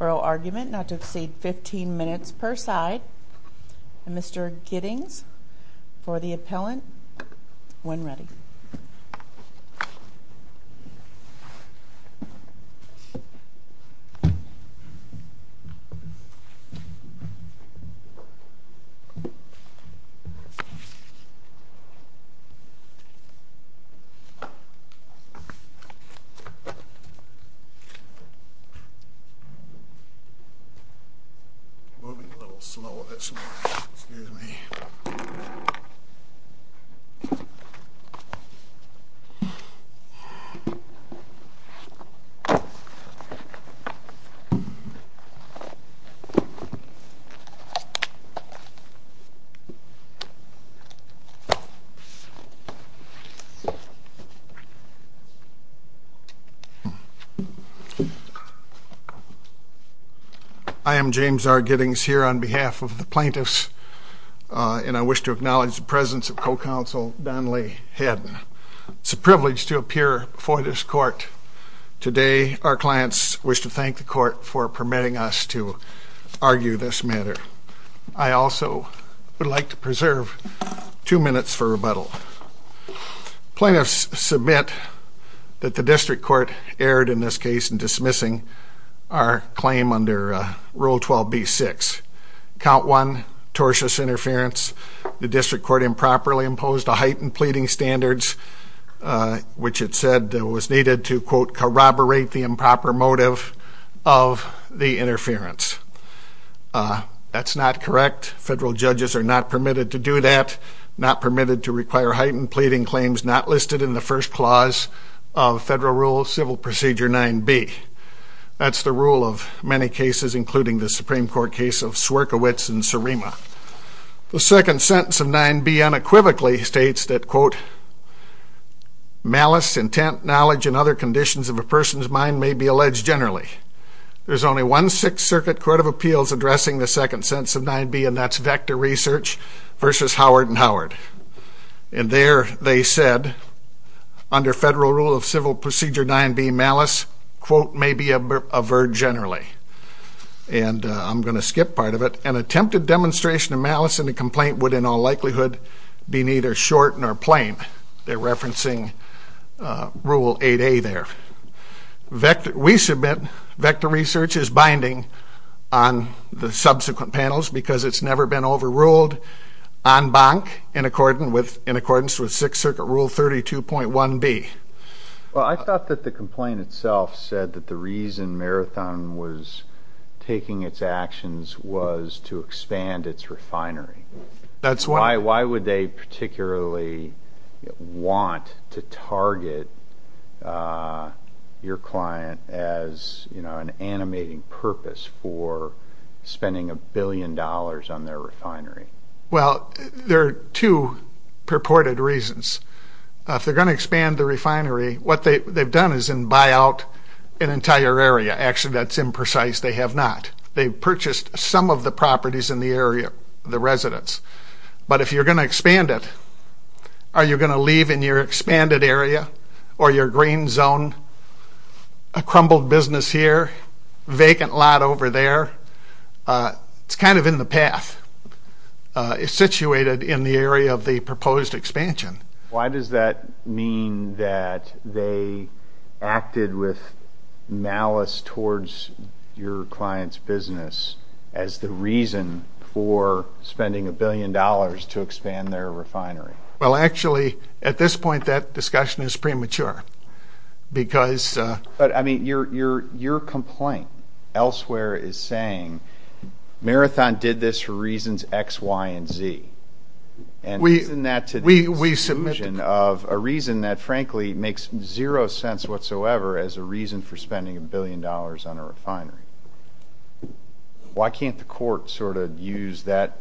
oral argument not to exceed 15 minutes per side. Mr. Giddings, for the appellant, when ready. Mr. Giddings, for the appellant, when ready. I am James R. Giddings here on behalf of the plaintiffs and I wish to acknowledge the presence of co-counsel Donnely Hadden. It's a privilege to appear before this court today. Our clients wish to thank the court for permitting us to argue this matter. I also would like to preserve two minutes for rebuttal. Plaintiffs submit that the district court erred in this case in dismissing our claim under Rule 12b-6. Count 1, tortious interference, the district court improperly imposed a heightened pleading standards, which it said was needed to, quote, corroborate the improper motive of the interference. That's not correct. Federal judges are not permitted to do that, not permitted to require heightened pleading claims not listed in the first clause of Federal Rule Civil Procedure 9b. That's the rule of many cases, including the Supreme Court case of Swierkiewicz and Surima. The second sentence of 9b unequivocally states that, quote, malice, intent, knowledge, and other conditions of a person's mind may be alleged generally. There's only one Sixth Circuit Court of Appeals addressing the second sentence of 9b, and that's Vector Research versus Howard and Howard. And there they said, under Federal Rule of Civil Procedure 9b, malice, quote, may be averred generally. And I'm going to skip part of it. An attempted demonstration of malice in the complaint would in all likelihood be neither short nor plain. They're referencing Rule 8a there. We submit Vector Research is binding on the subsequent panels because it's never been overruled en banc in accordance with Sixth Circuit Rule 32.1b. Well, I thought that the complaint itself said that the reason Marathon was taking its actions was to expand its refinery. That's right. Why would they particularly want to target your client as, you know, an animating purpose for spending a billion dollars on their refinery? Well, there are two purported reasons. If they're going to expand the refinery, what they've done is buy out an entire area. Actually, that's imprecise. They have not. They've purchased some of the properties in the area, the residents. But if you're going to expand it, are you going to leave in your expanded area or your green zone a crumbled business here, vacant lot over there? It's kind of in the path. It's situated in the area of the proposed expansion. Why does that mean that they acted with malice towards your client's business as the reason for spending a billion dollars to expand their refinery? Well, actually, at this point, that discussion is premature because... But, I mean, your complaint elsewhere is saying Marathon did this for reasons X, Y, and Z. And isn't that today's solution of a reason that, frankly, makes zero sense whatsoever as a reason for spending a billion dollars on a refinery? Why can't the court sort of use that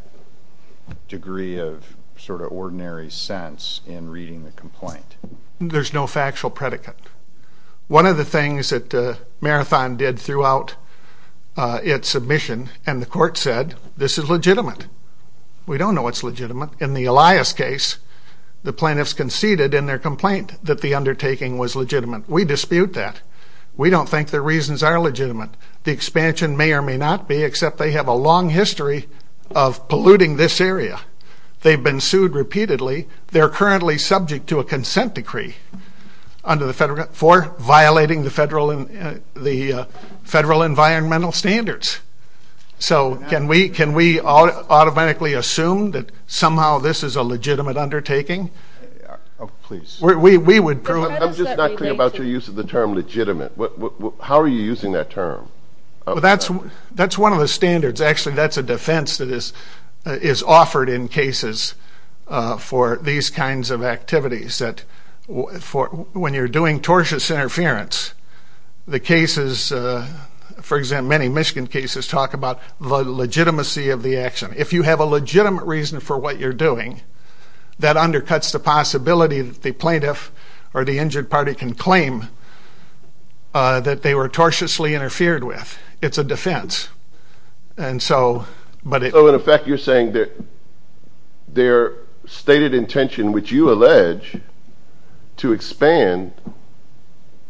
degree of sort of ordinary sense in reading the complaint? There's no factual predicate. One of the things that Marathon did throughout its submission, and the court said, this is legitimate. We don't know it's legitimate. In the Elias case, the plaintiffs conceded in their complaint that the undertaking was legitimate. We dispute that. We don't think their reasons are legitimate. The expansion may or may not be, except they have a long history of polluting this area. They've been sued repeatedly. They're currently subject to a consent decree for violating the federal environmental standards. So, can we automatically assume that somehow this is a legitimate undertaking? Please. We would prove... I'm just not clear about your use of the term legitimate. How are you using that term? That's one of the standards. Actually, that's a defense that is offered in cases for these kinds of activities. When you're doing tortious interference, the cases, for example, many Michigan cases talk about the legitimacy of the action. If you have a legitimate reason for what you're doing, that undercuts the possibility that the plaintiff or the injured party can claim that they were tortiously interfered with. It's a defense. So, in effect, you're saying their stated intention, which you allege to expand,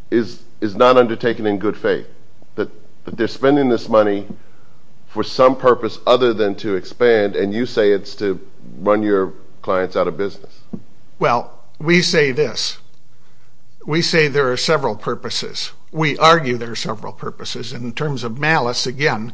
is not undertaken in good faith, that they're spending this money for some purpose other than to expand, and you say it's to run your clients out of business. Well, we say this. We say there are several purposes. We argue there are several purposes. And in terms of malice, again,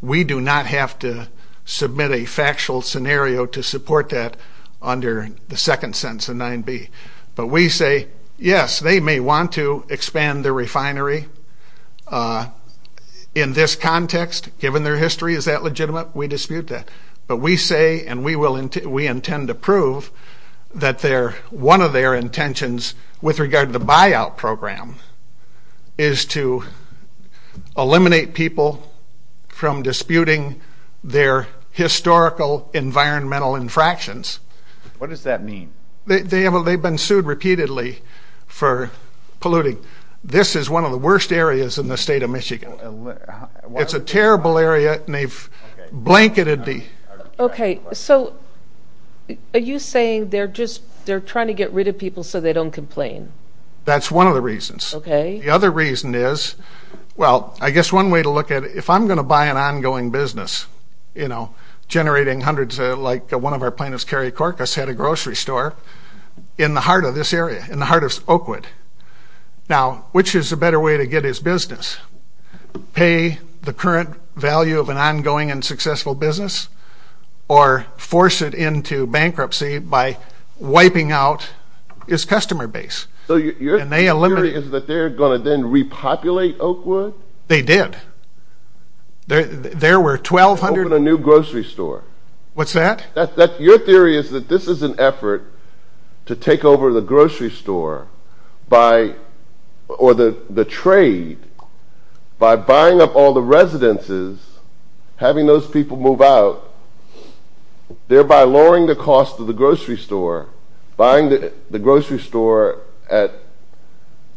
we do not have to submit a factual scenario to support that under the second sentence of 9b. But we say, yes, they may want to expand their refinery in this context, given their history. Is that legitimate? We dispute that. But we say, and we intend to prove, that one of their intentions with regard to the buyout program is to eliminate people from disputing their historical environmental infractions. What does that mean? They've been sued repeatedly for polluting. This is one of the worst areas in the state of Michigan. It's a terrible area, and they've blanketed the... Okay. So, are you saying they're just trying to get rid of people so they don't complain? That's one of the reasons. Okay. The other reason is, well, I guess one way to look at it, if I'm going to buy an ongoing business, you know, generating hundreds, like one of our plaintiffs, Kerry Korkus, had a grocery store in the heart of this area, in the heart of Oakwood. Now, which is a better way to get his business? Pay the current value of an ongoing and successful business, or force it into bankruptcy by wiping out his customer base? So your theory is that they're going to then repopulate Oakwood? They did. There were 1,200... Open a new grocery store. What's that? Your theory is that this is an effort to take over the grocery store or the trade by buying up all the residences, having those people move out, thereby lowering the cost of the grocery store, buying the grocery store at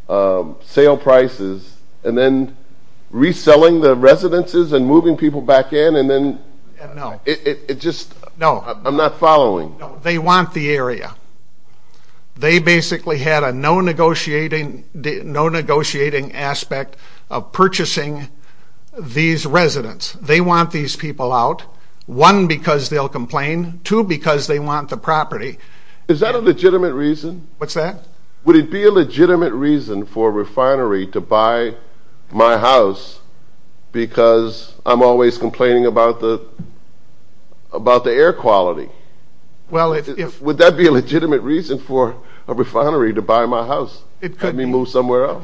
sale prices, and then reselling the residences and moving people back in, and then... No. It just... No. I'm not following. They want the area. They basically had a no-negotiating aspect of purchasing these residents. They want these people out, one, because they'll complain, two, because they want the property. Is that a legitimate reason? What's that? Would it be a legitimate reason for a refinery to buy my house because I'm always complaining about the air quality? Well, if... Would that be a legitimate reason for a refinery to buy my house, have me move somewhere else?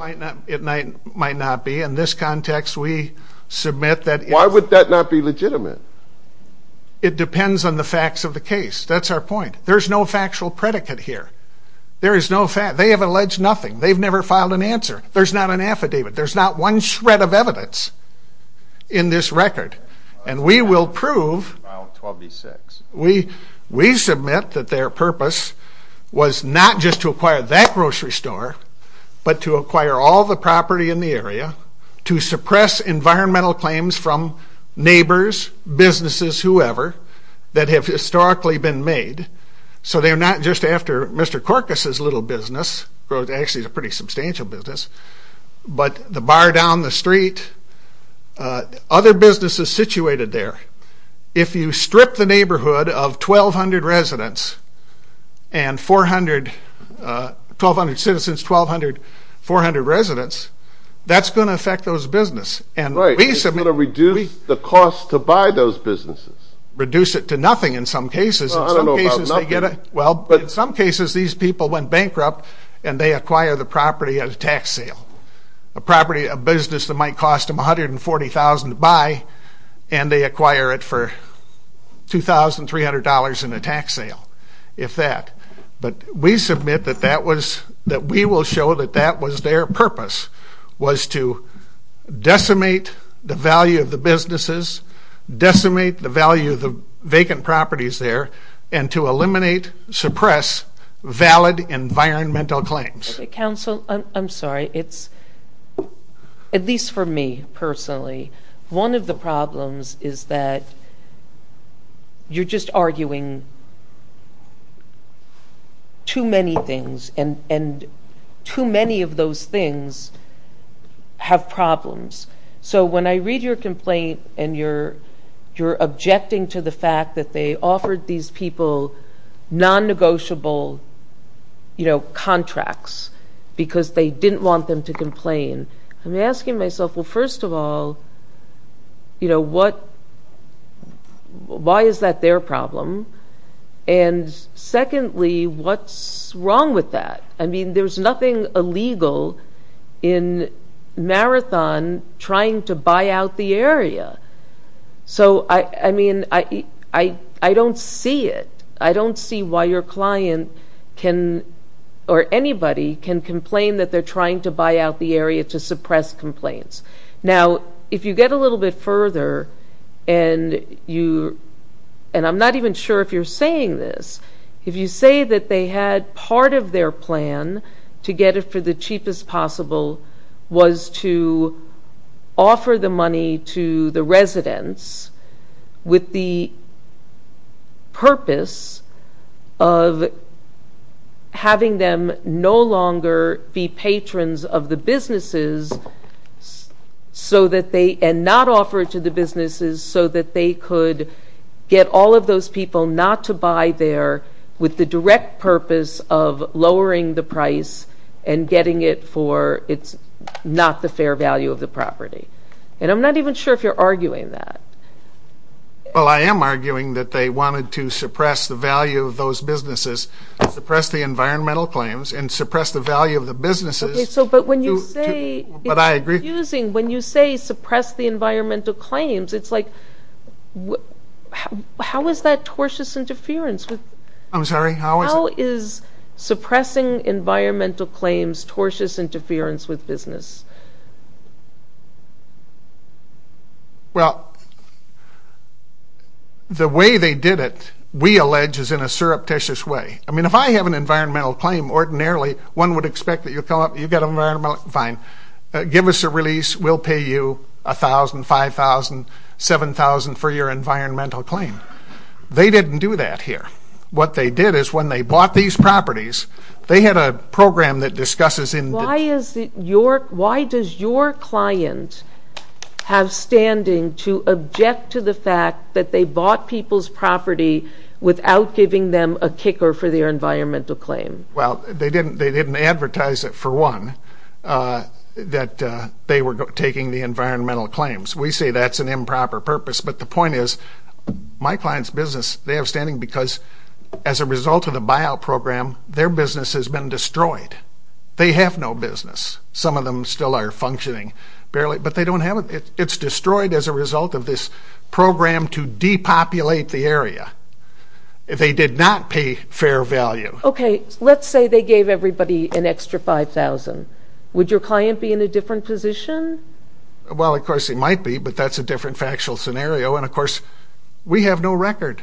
It might not be. In this context, we submit that... Why would that not be legitimate? It depends on the facts of the case. That's our point. There's no factual predicate here. There is no fact. They have alleged nothing. They've never filed an answer. There's not an affidavit. There's not one shred of evidence in this record. And we will prove... File 12-B-6. We submit that their purpose was not just to acquire that grocery store, but to acquire all the property in the area, to suppress environmental claims from neighbors, businesses, whoever, that have historically been made, so they're not just after Mr. Korkus' little business, which actually is a pretty substantial business, but the bar down the street, other businesses situated there. If you strip the neighborhood of 1,200 residents and 400... 1,200 citizens, 1,200, 400 residents, that's going to affect those businesses. Right. It's going to reduce the cost to buy those businesses. Reduce it to nothing in some cases. I don't know about nothing. Well, in some cases, these people went bankrupt, and they acquire the property at a tax sale, a property, a business that might cost them $140,000 to buy, and they acquire it for $2,300 in a tax sale, if that. But we submit that we will show that that was their purpose, was to decimate the value of the businesses, decimate the value of the vacant properties there, and to eliminate, suppress valid environmental claims. Counsel, I'm sorry. It's, at least for me personally, one of the problems is that you're just arguing too many things, and too many of those things have problems. So when I read your complaint, and you're objecting to the fact that they offered these people non-negotiable contracts because they didn't want them to complain, I'm asking myself, well, first of all, why is that their problem? And secondly, what's wrong with that? I mean, there's nothing illegal in Marathon trying to buy out the area. So, I mean, I don't see it. I don't see why your client can, or anybody can, complain that they're trying to buy out the area to suppress complaints. Now, if you get a little bit further, and I'm not even sure if you're saying this, if you say that they had part of their plan to get it for the cheapest possible was to offer the money to the residents with the purpose of having them no longer be patrons of the businesses, and not offer it to the businesses, so that they could get all of those people not to buy there with the direct purpose of lowering the price and getting it for it's not the fair value of the property. And I'm not even sure if you're arguing that. Well, I am arguing that they wanted to suppress the value of those businesses, suppress the environmental claims, and suppress the value of the businesses. But when you say it's confusing, when you say suppress the environmental claims, it's like, how is that tortuous interference? I'm sorry, how is it? How is suppressing environmental claims tortuous interference with business? Well, the way they did it, we allege, is in a surreptitious way. I mean, if I have an environmental claim, ordinarily, one would expect that you'll come up, you've got an environmental claim, fine. Give us a release, we'll pay you $1,000, $5,000, $7,000 for your environmental claim. They didn't do that here. What they did is when they bought these properties, they had a program that discusses in the... Why does your client have standing to object to the fact that they bought people's property without giving them a kicker for their environmental claim? Well, they didn't advertise it, for one, that they were taking the environmental claims. We say that's an improper purpose, but the point is my client's business, they have standing because as a result of the buyout program, their business has been destroyed. They have no business. Some of them still are functioning, but they don't have it. It's destroyed as a result of this program to depopulate the area. They did not pay fair value. Okay, let's say they gave everybody an extra $5,000. Would your client be in a different position? Well, of course he might be, but that's a different factual scenario, and of course we have no record.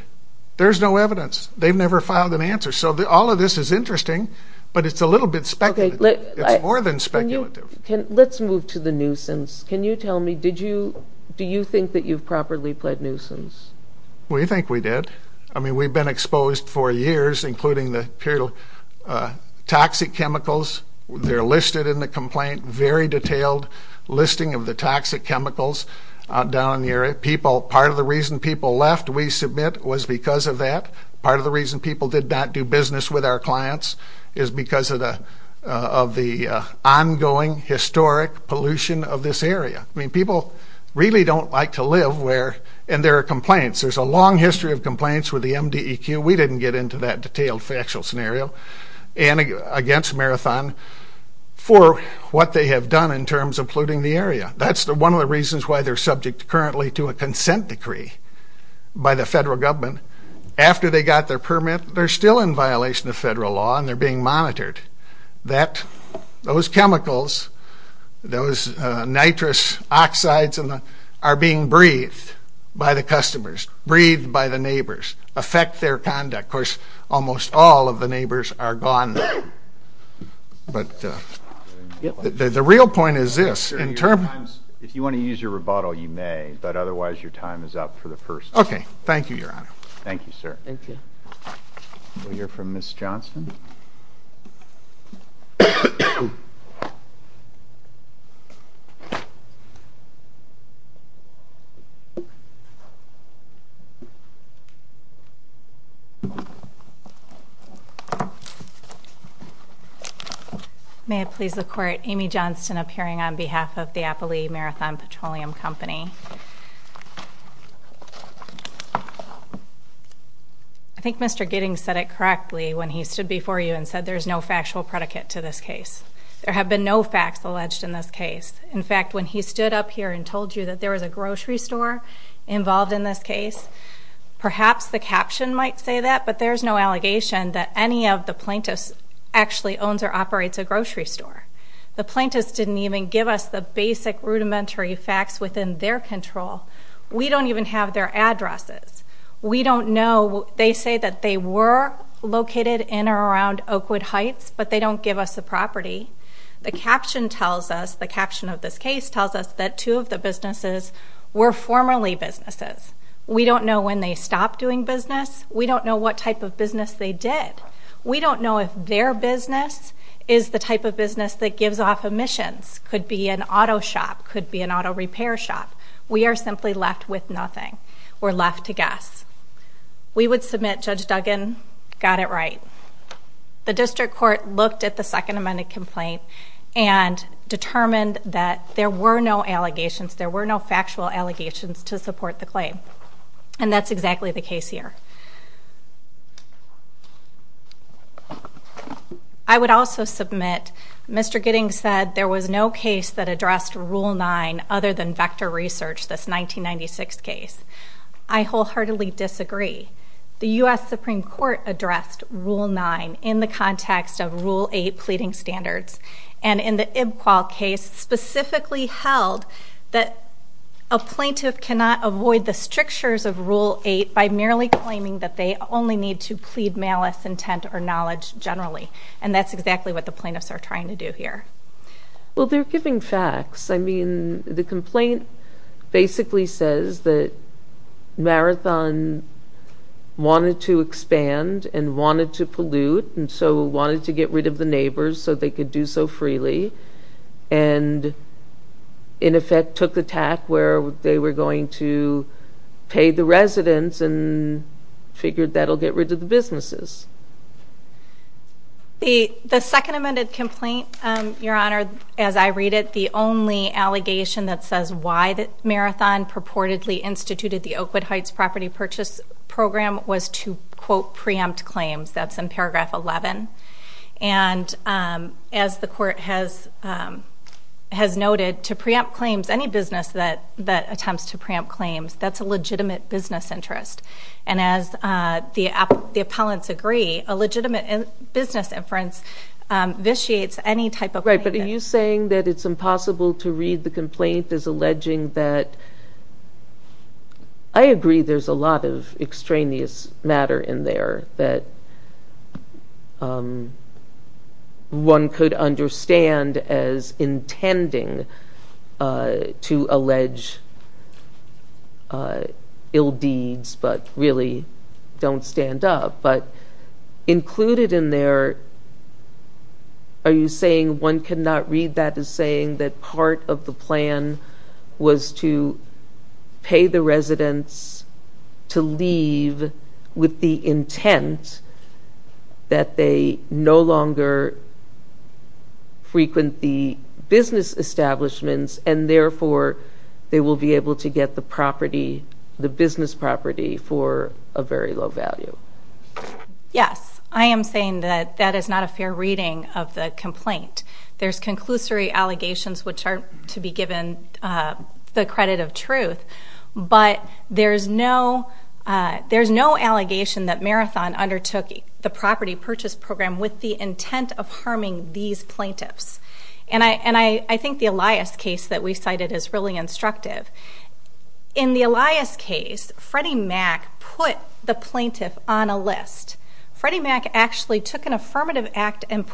There's no evidence. They've never filed an answer, so all of this is interesting, but it's a little bit speculative. It's more than speculative. Let's move to the nuisance. Can you tell me, do you think that you've properly pled nuisance? We think we did. I mean, we've been exposed for years, including the period of toxic chemicals. They're listed in the complaint, very detailed listing of the toxic chemicals down in the area. Part of the reason people left, we submit, was because of that. Part of the reason people did not do business with our clients is because of the ongoing historic pollution of this area. I mean, people really don't like to live where, and there are complaints. There's a long history of complaints with the MDEQ. We didn't get into that detailed factual scenario, and against Marathon for what they have done in terms of polluting the area. That's one of the reasons why they're subject currently to a consent decree by the federal government. After they got their permit, they're still in violation of federal law, and they're being monitored. Those chemicals, those nitrous oxides, are being breathed by the customers, breathed by the neighbors, affect their conduct. Of course, almost all of the neighbors are gone now. But the real point is this. If you want to use your rebuttal, you may, but otherwise your time is up for the first. Okay. Thank you, Your Honor. Thank you, sir. Thank you. We'll hear from Ms. Johnson. May it please the Court, Amy Johnson appearing on behalf of the Appalachee Marathon Petroleum Company. I think Mr. Giddings said it correctly when he stood before you and said there's no factual predicate to this case. There have been no facts alleged in this case. In fact, when he stood up here and told you that there was a grocery store involved in this case, perhaps the caption might say that, but there's no allegation that any of the plaintiffs actually owns or operates a grocery store. The plaintiffs didn't even give us the basic rudimentary facts within their control. We don't even have their addresses. We don't know. They say that they were located in or around Oakwood Heights, but they don't give us the property. The caption tells us, the caption of this case tells us that two of the businesses were formerly businesses. We don't know when they stopped doing business. We don't know what type of business they did. We don't know if their business is the type of business that gives off emissions, could be an auto shop, could be an auto repair shop. We are simply left with nothing. We're left to guess. We would submit Judge Duggan got it right. The district court looked at the Second Amendment complaint and determined that there were no allegations, there were no factual allegations to support the claim, and that's exactly the case here. I would also submit, Mr. Giddings said there was no case that addressed Rule 9 other than vector research, this 1996 case. I wholeheartedly disagree. The U.S. Supreme Court addressed Rule 9 in the context of Rule 8 pleading standards, and in the Ibqual case specifically held that a plaintiff cannot avoid the strictures of Rule 8 by merely claiming that they only need to plead malice, intent, or knowledge generally, and that's exactly what the plaintiffs are trying to do here. Well, they're giving facts. I mean, the complaint basically says that Marathon wanted to expand and wanted to pollute and so wanted to get rid of the neighbors so they could do so freely and in effect took the tack where they were going to pay the residents and figured that'll get rid of the businesses. The Second Amendment complaint, Your Honor, as I read it, the only allegation that says why Marathon purportedly instituted the Oakwood Heights property purchase program was to, quote, preempt claims. That's in paragraph 11. And as the court has noted, to preempt claims, any business that attempts to preempt claims, that's a legitimate business interest. And as the appellants agree, a legitimate business inference vitiates any type of plaintiff. Right, but are you saying that it's impossible to read the complaint as alleging that? I agree there's a lot of extraneous matter in there that one could understand as intending to allege ill deeds but really don't stand up. But included in there, are you saying one cannot read that as saying that part of the plan was to pay the residents to leave with the intent that they no longer frequent the business establishments and therefore they will be able to get the property, the business property, for a very low value? Yes, I am saying that that is not a fair reading of the complaint. There's conclusory allegations which are to be given the credit of truth. But there's no allegation that Marathon undertook the property purchase program with the intent of harming these plaintiffs. And I think the Elias case that we cited is really instructive. In the Elias case, Freddie Mac put the plaintiff on a list. Freddie Mac actually took an affirmative act and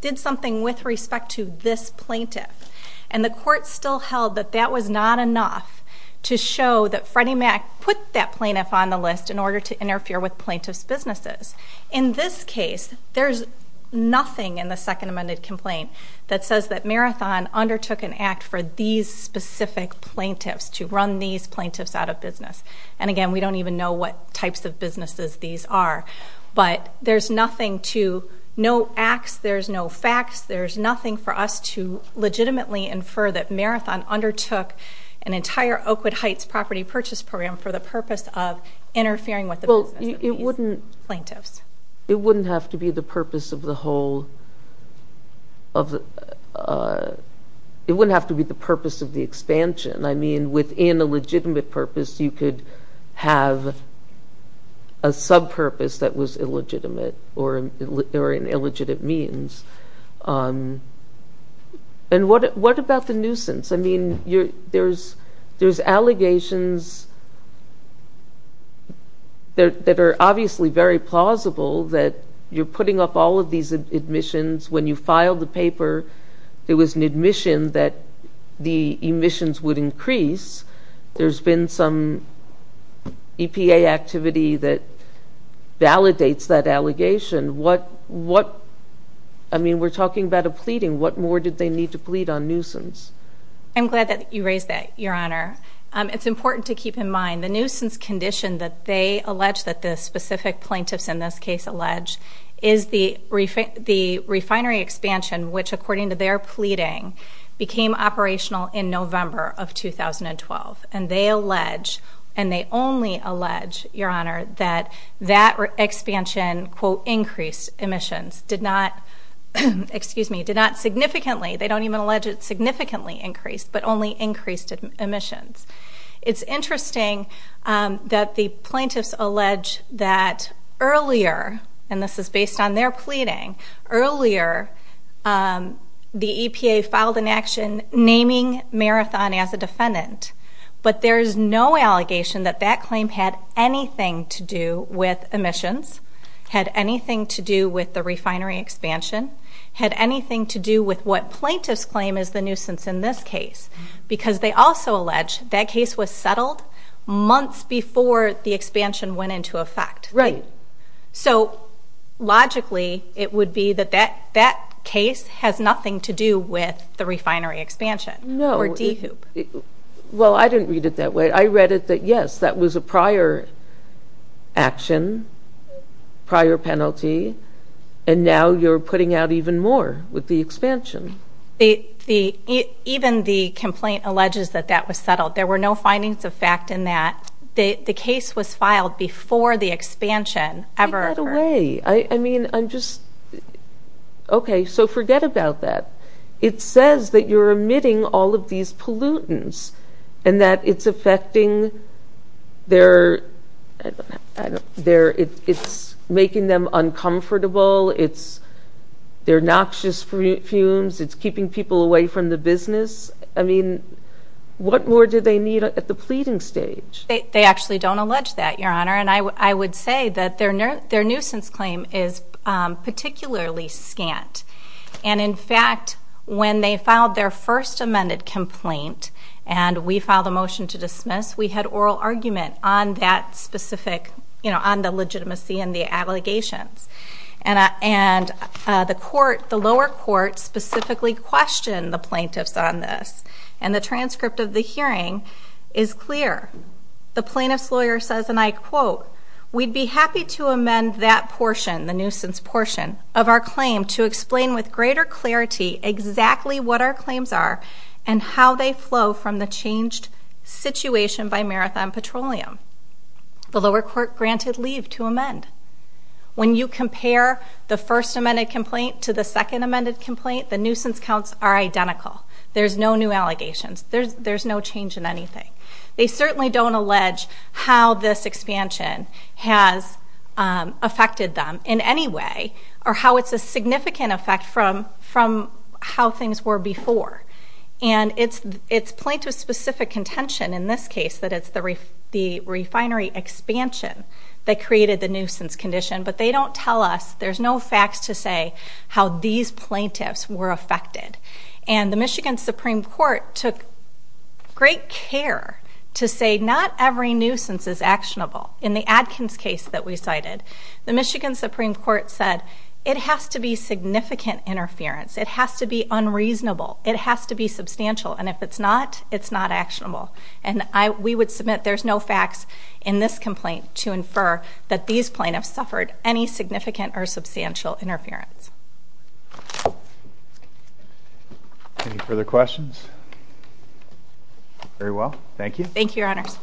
did something with respect to this plaintiff. And the court still held that that was not enough to show that Freddie Mac put that plaintiff on the list in order to interfere with plaintiff's businesses. In this case, there's nothing in the Second Amendment complaint that says that Marathon undertook an act for these specific plaintiffs to run these plaintiffs out of business. And again, we don't even know what types of businesses these are. But there's nothing to note acts, there's no facts, there's nothing for us to legitimately infer that Marathon undertook an entire Oakwood Heights property purchase program for the purpose of interfering with the business of these plaintiffs. It wouldn't have to be the purpose of the expansion. I mean, within a legitimate purpose, you could have a sub-purpose that was illegitimate or an illegitimate means. And what about the nuisance? I mean, there's allegations that are obviously very plausible that you're putting up all of these admissions. When you filed the paper, there was an admission that the admissions would increase. There's been some EPA activity that validates that allegation. I mean, we're talking about a pleading. What more did they need to plead on nuisance? I'm glad that you raised that, Your Honor. It's important to keep in mind the nuisance condition that they allege that the specific plaintiffs in this case allege is the refinery expansion which, according to their pleading, became operational in November of 2012. And they allege, and they only allege, Your Honor, that that expansion, quote, increased emissions. Did not significantly. They don't even allege it significantly increased, but only increased emissions. It's interesting that the plaintiffs allege that earlier, and this is based on their pleading, earlier the EPA filed an action naming Marathon as a defendant. But there is no allegation that that claim had anything to do with emissions, had anything to do with the refinery expansion, had anything to do with what plaintiffs claim is the nuisance in this case because they also allege that case was settled months before the expansion went into effect. Right. So, logically, it would be that that case has nothing to do with the refinery expansion. No. Or DEHOOP. Well, I didn't read it that way. I read it that, yes, that was a prior action, prior penalty, and now you're putting out even more with the expansion. Even the complaint alleges that that was settled. There were no findings of fact in that. The case was filed before the expansion ever occurred. Take that away. I mean, I'm just, okay, so forget about that. It says that you're emitting all of these pollutants and that it's affecting their, it's making them uncomfortable. It's their noxious fumes. It's keeping people away from the business. I mean, what more do they need at the pleading stage? They actually don't allege that, Your Honor, and I would say that their nuisance claim is particularly scant. And, in fact, when they filed their first amended complaint and we filed a motion to dismiss, we had oral argument on that specific, you know, on the legitimacy and the allegations. And the lower court specifically questioned the plaintiffs on this, and the transcript of the hearing is clear. The plaintiff's lawyer says, and I quote, we'd be happy to amend that portion, the nuisance portion, of our claim to explain with greater clarity exactly what our claims are and how they flow from the changed situation by Marathon Petroleum. The lower court granted leave to amend. When you compare the first amended complaint to the second amended complaint, the nuisance counts are identical. There's no new allegations. There's no change in anything. They certainly don't allege how this expansion has affected them in any way or how it's a significant effect from how things were before. And it's plaintiff's specific contention in this case, that it's the refinery expansion that created the nuisance condition, but they don't tell us. There's no facts to say how these plaintiffs were affected. And the Michigan Supreme Court took great care to say not every nuisance is actionable. In the Adkins case that we cited, the Michigan Supreme Court said, it has to be significant interference. It has to be unreasonable. It has to be substantial. And if it's not, it's not actionable. And we would submit there's no facts in this complaint to infer that these plaintiffs suffered any significant or substantial interference. Any further questions? Very well, thank you. Thank you, Your Honors.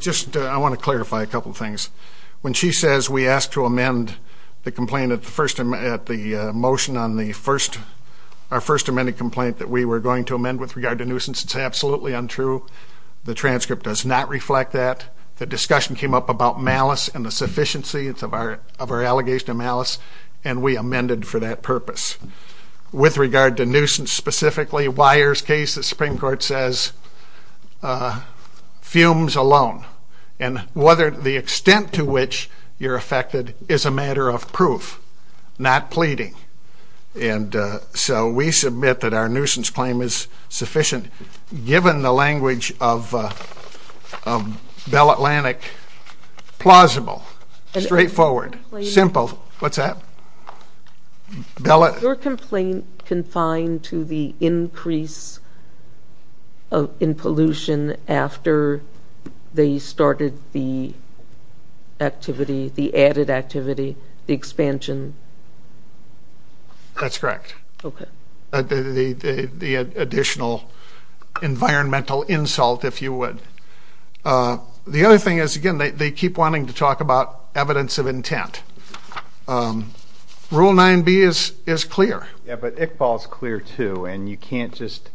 Just I want to clarify a couple things. When she says we asked to amend the complaint at the motion on our first amended complaint that we were going to amend with regard to nuisance, it's absolutely untrue. The transcript does not reflect that. The discussion came up about malice and the sufficiency of our allegation of malice, and we amended for that purpose. With regard to nuisance specifically, Wyer's case, the Supreme Court says, fumes alone. And whether the extent to which you're affected is a matter of proof, not pleading. And so we submit that our nuisance claim is sufficient. Given the language of Bell Atlantic, plausible, straightforward, simple. What's that? Your complaint confined to the increase in pollution after they started the activity, the added activity, the expansion? That's correct. Okay. The additional environmental insult, if you would. The other thing is, again, they keep wanting to talk about evidence of rule 9B is clear. Yeah, but Iqbal's clear, too, and you can't just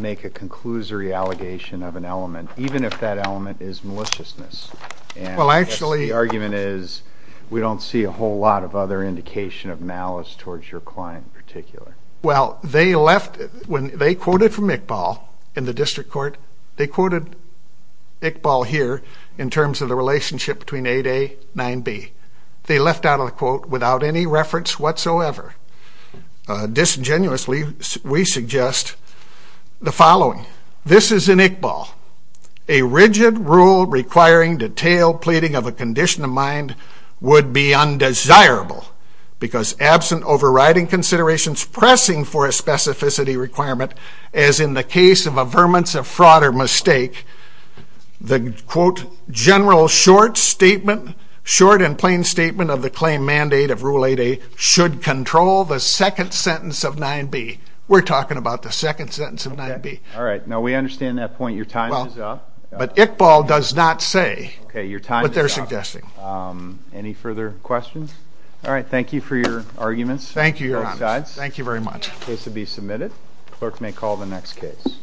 make a conclusory allegation of an element, even if that element is maliciousness. Well, actually the argument is we don't see a whole lot of other indication of malice towards your client in particular. Well, they left, when they quoted from Iqbal in the district court, they quoted Iqbal here in terms of the relationship between 8A, 9B. They left out a quote without any reference whatsoever. Disingenuously, we suggest the following. This is in Iqbal. A rigid rule requiring detailed pleading of a condition of mind would be undesirable because absent overriding considerations pressing for a specificity requirement, as in the case of a vermin of fraud or mistake, the quote general short statement, short and plain statement of the claim mandate of rule 8A should control the second sentence of 9B. We're talking about the second sentence of 9B. All right. Now, we understand that point. Your time is up. But Iqbal does not say what they're suggesting. Okay. Your time is up. Any further questions? All right. Thank you for your arguments. Thank you, Your Honor. Both sides. Thank you very much. The case will be submitted. Clerk may call the next case.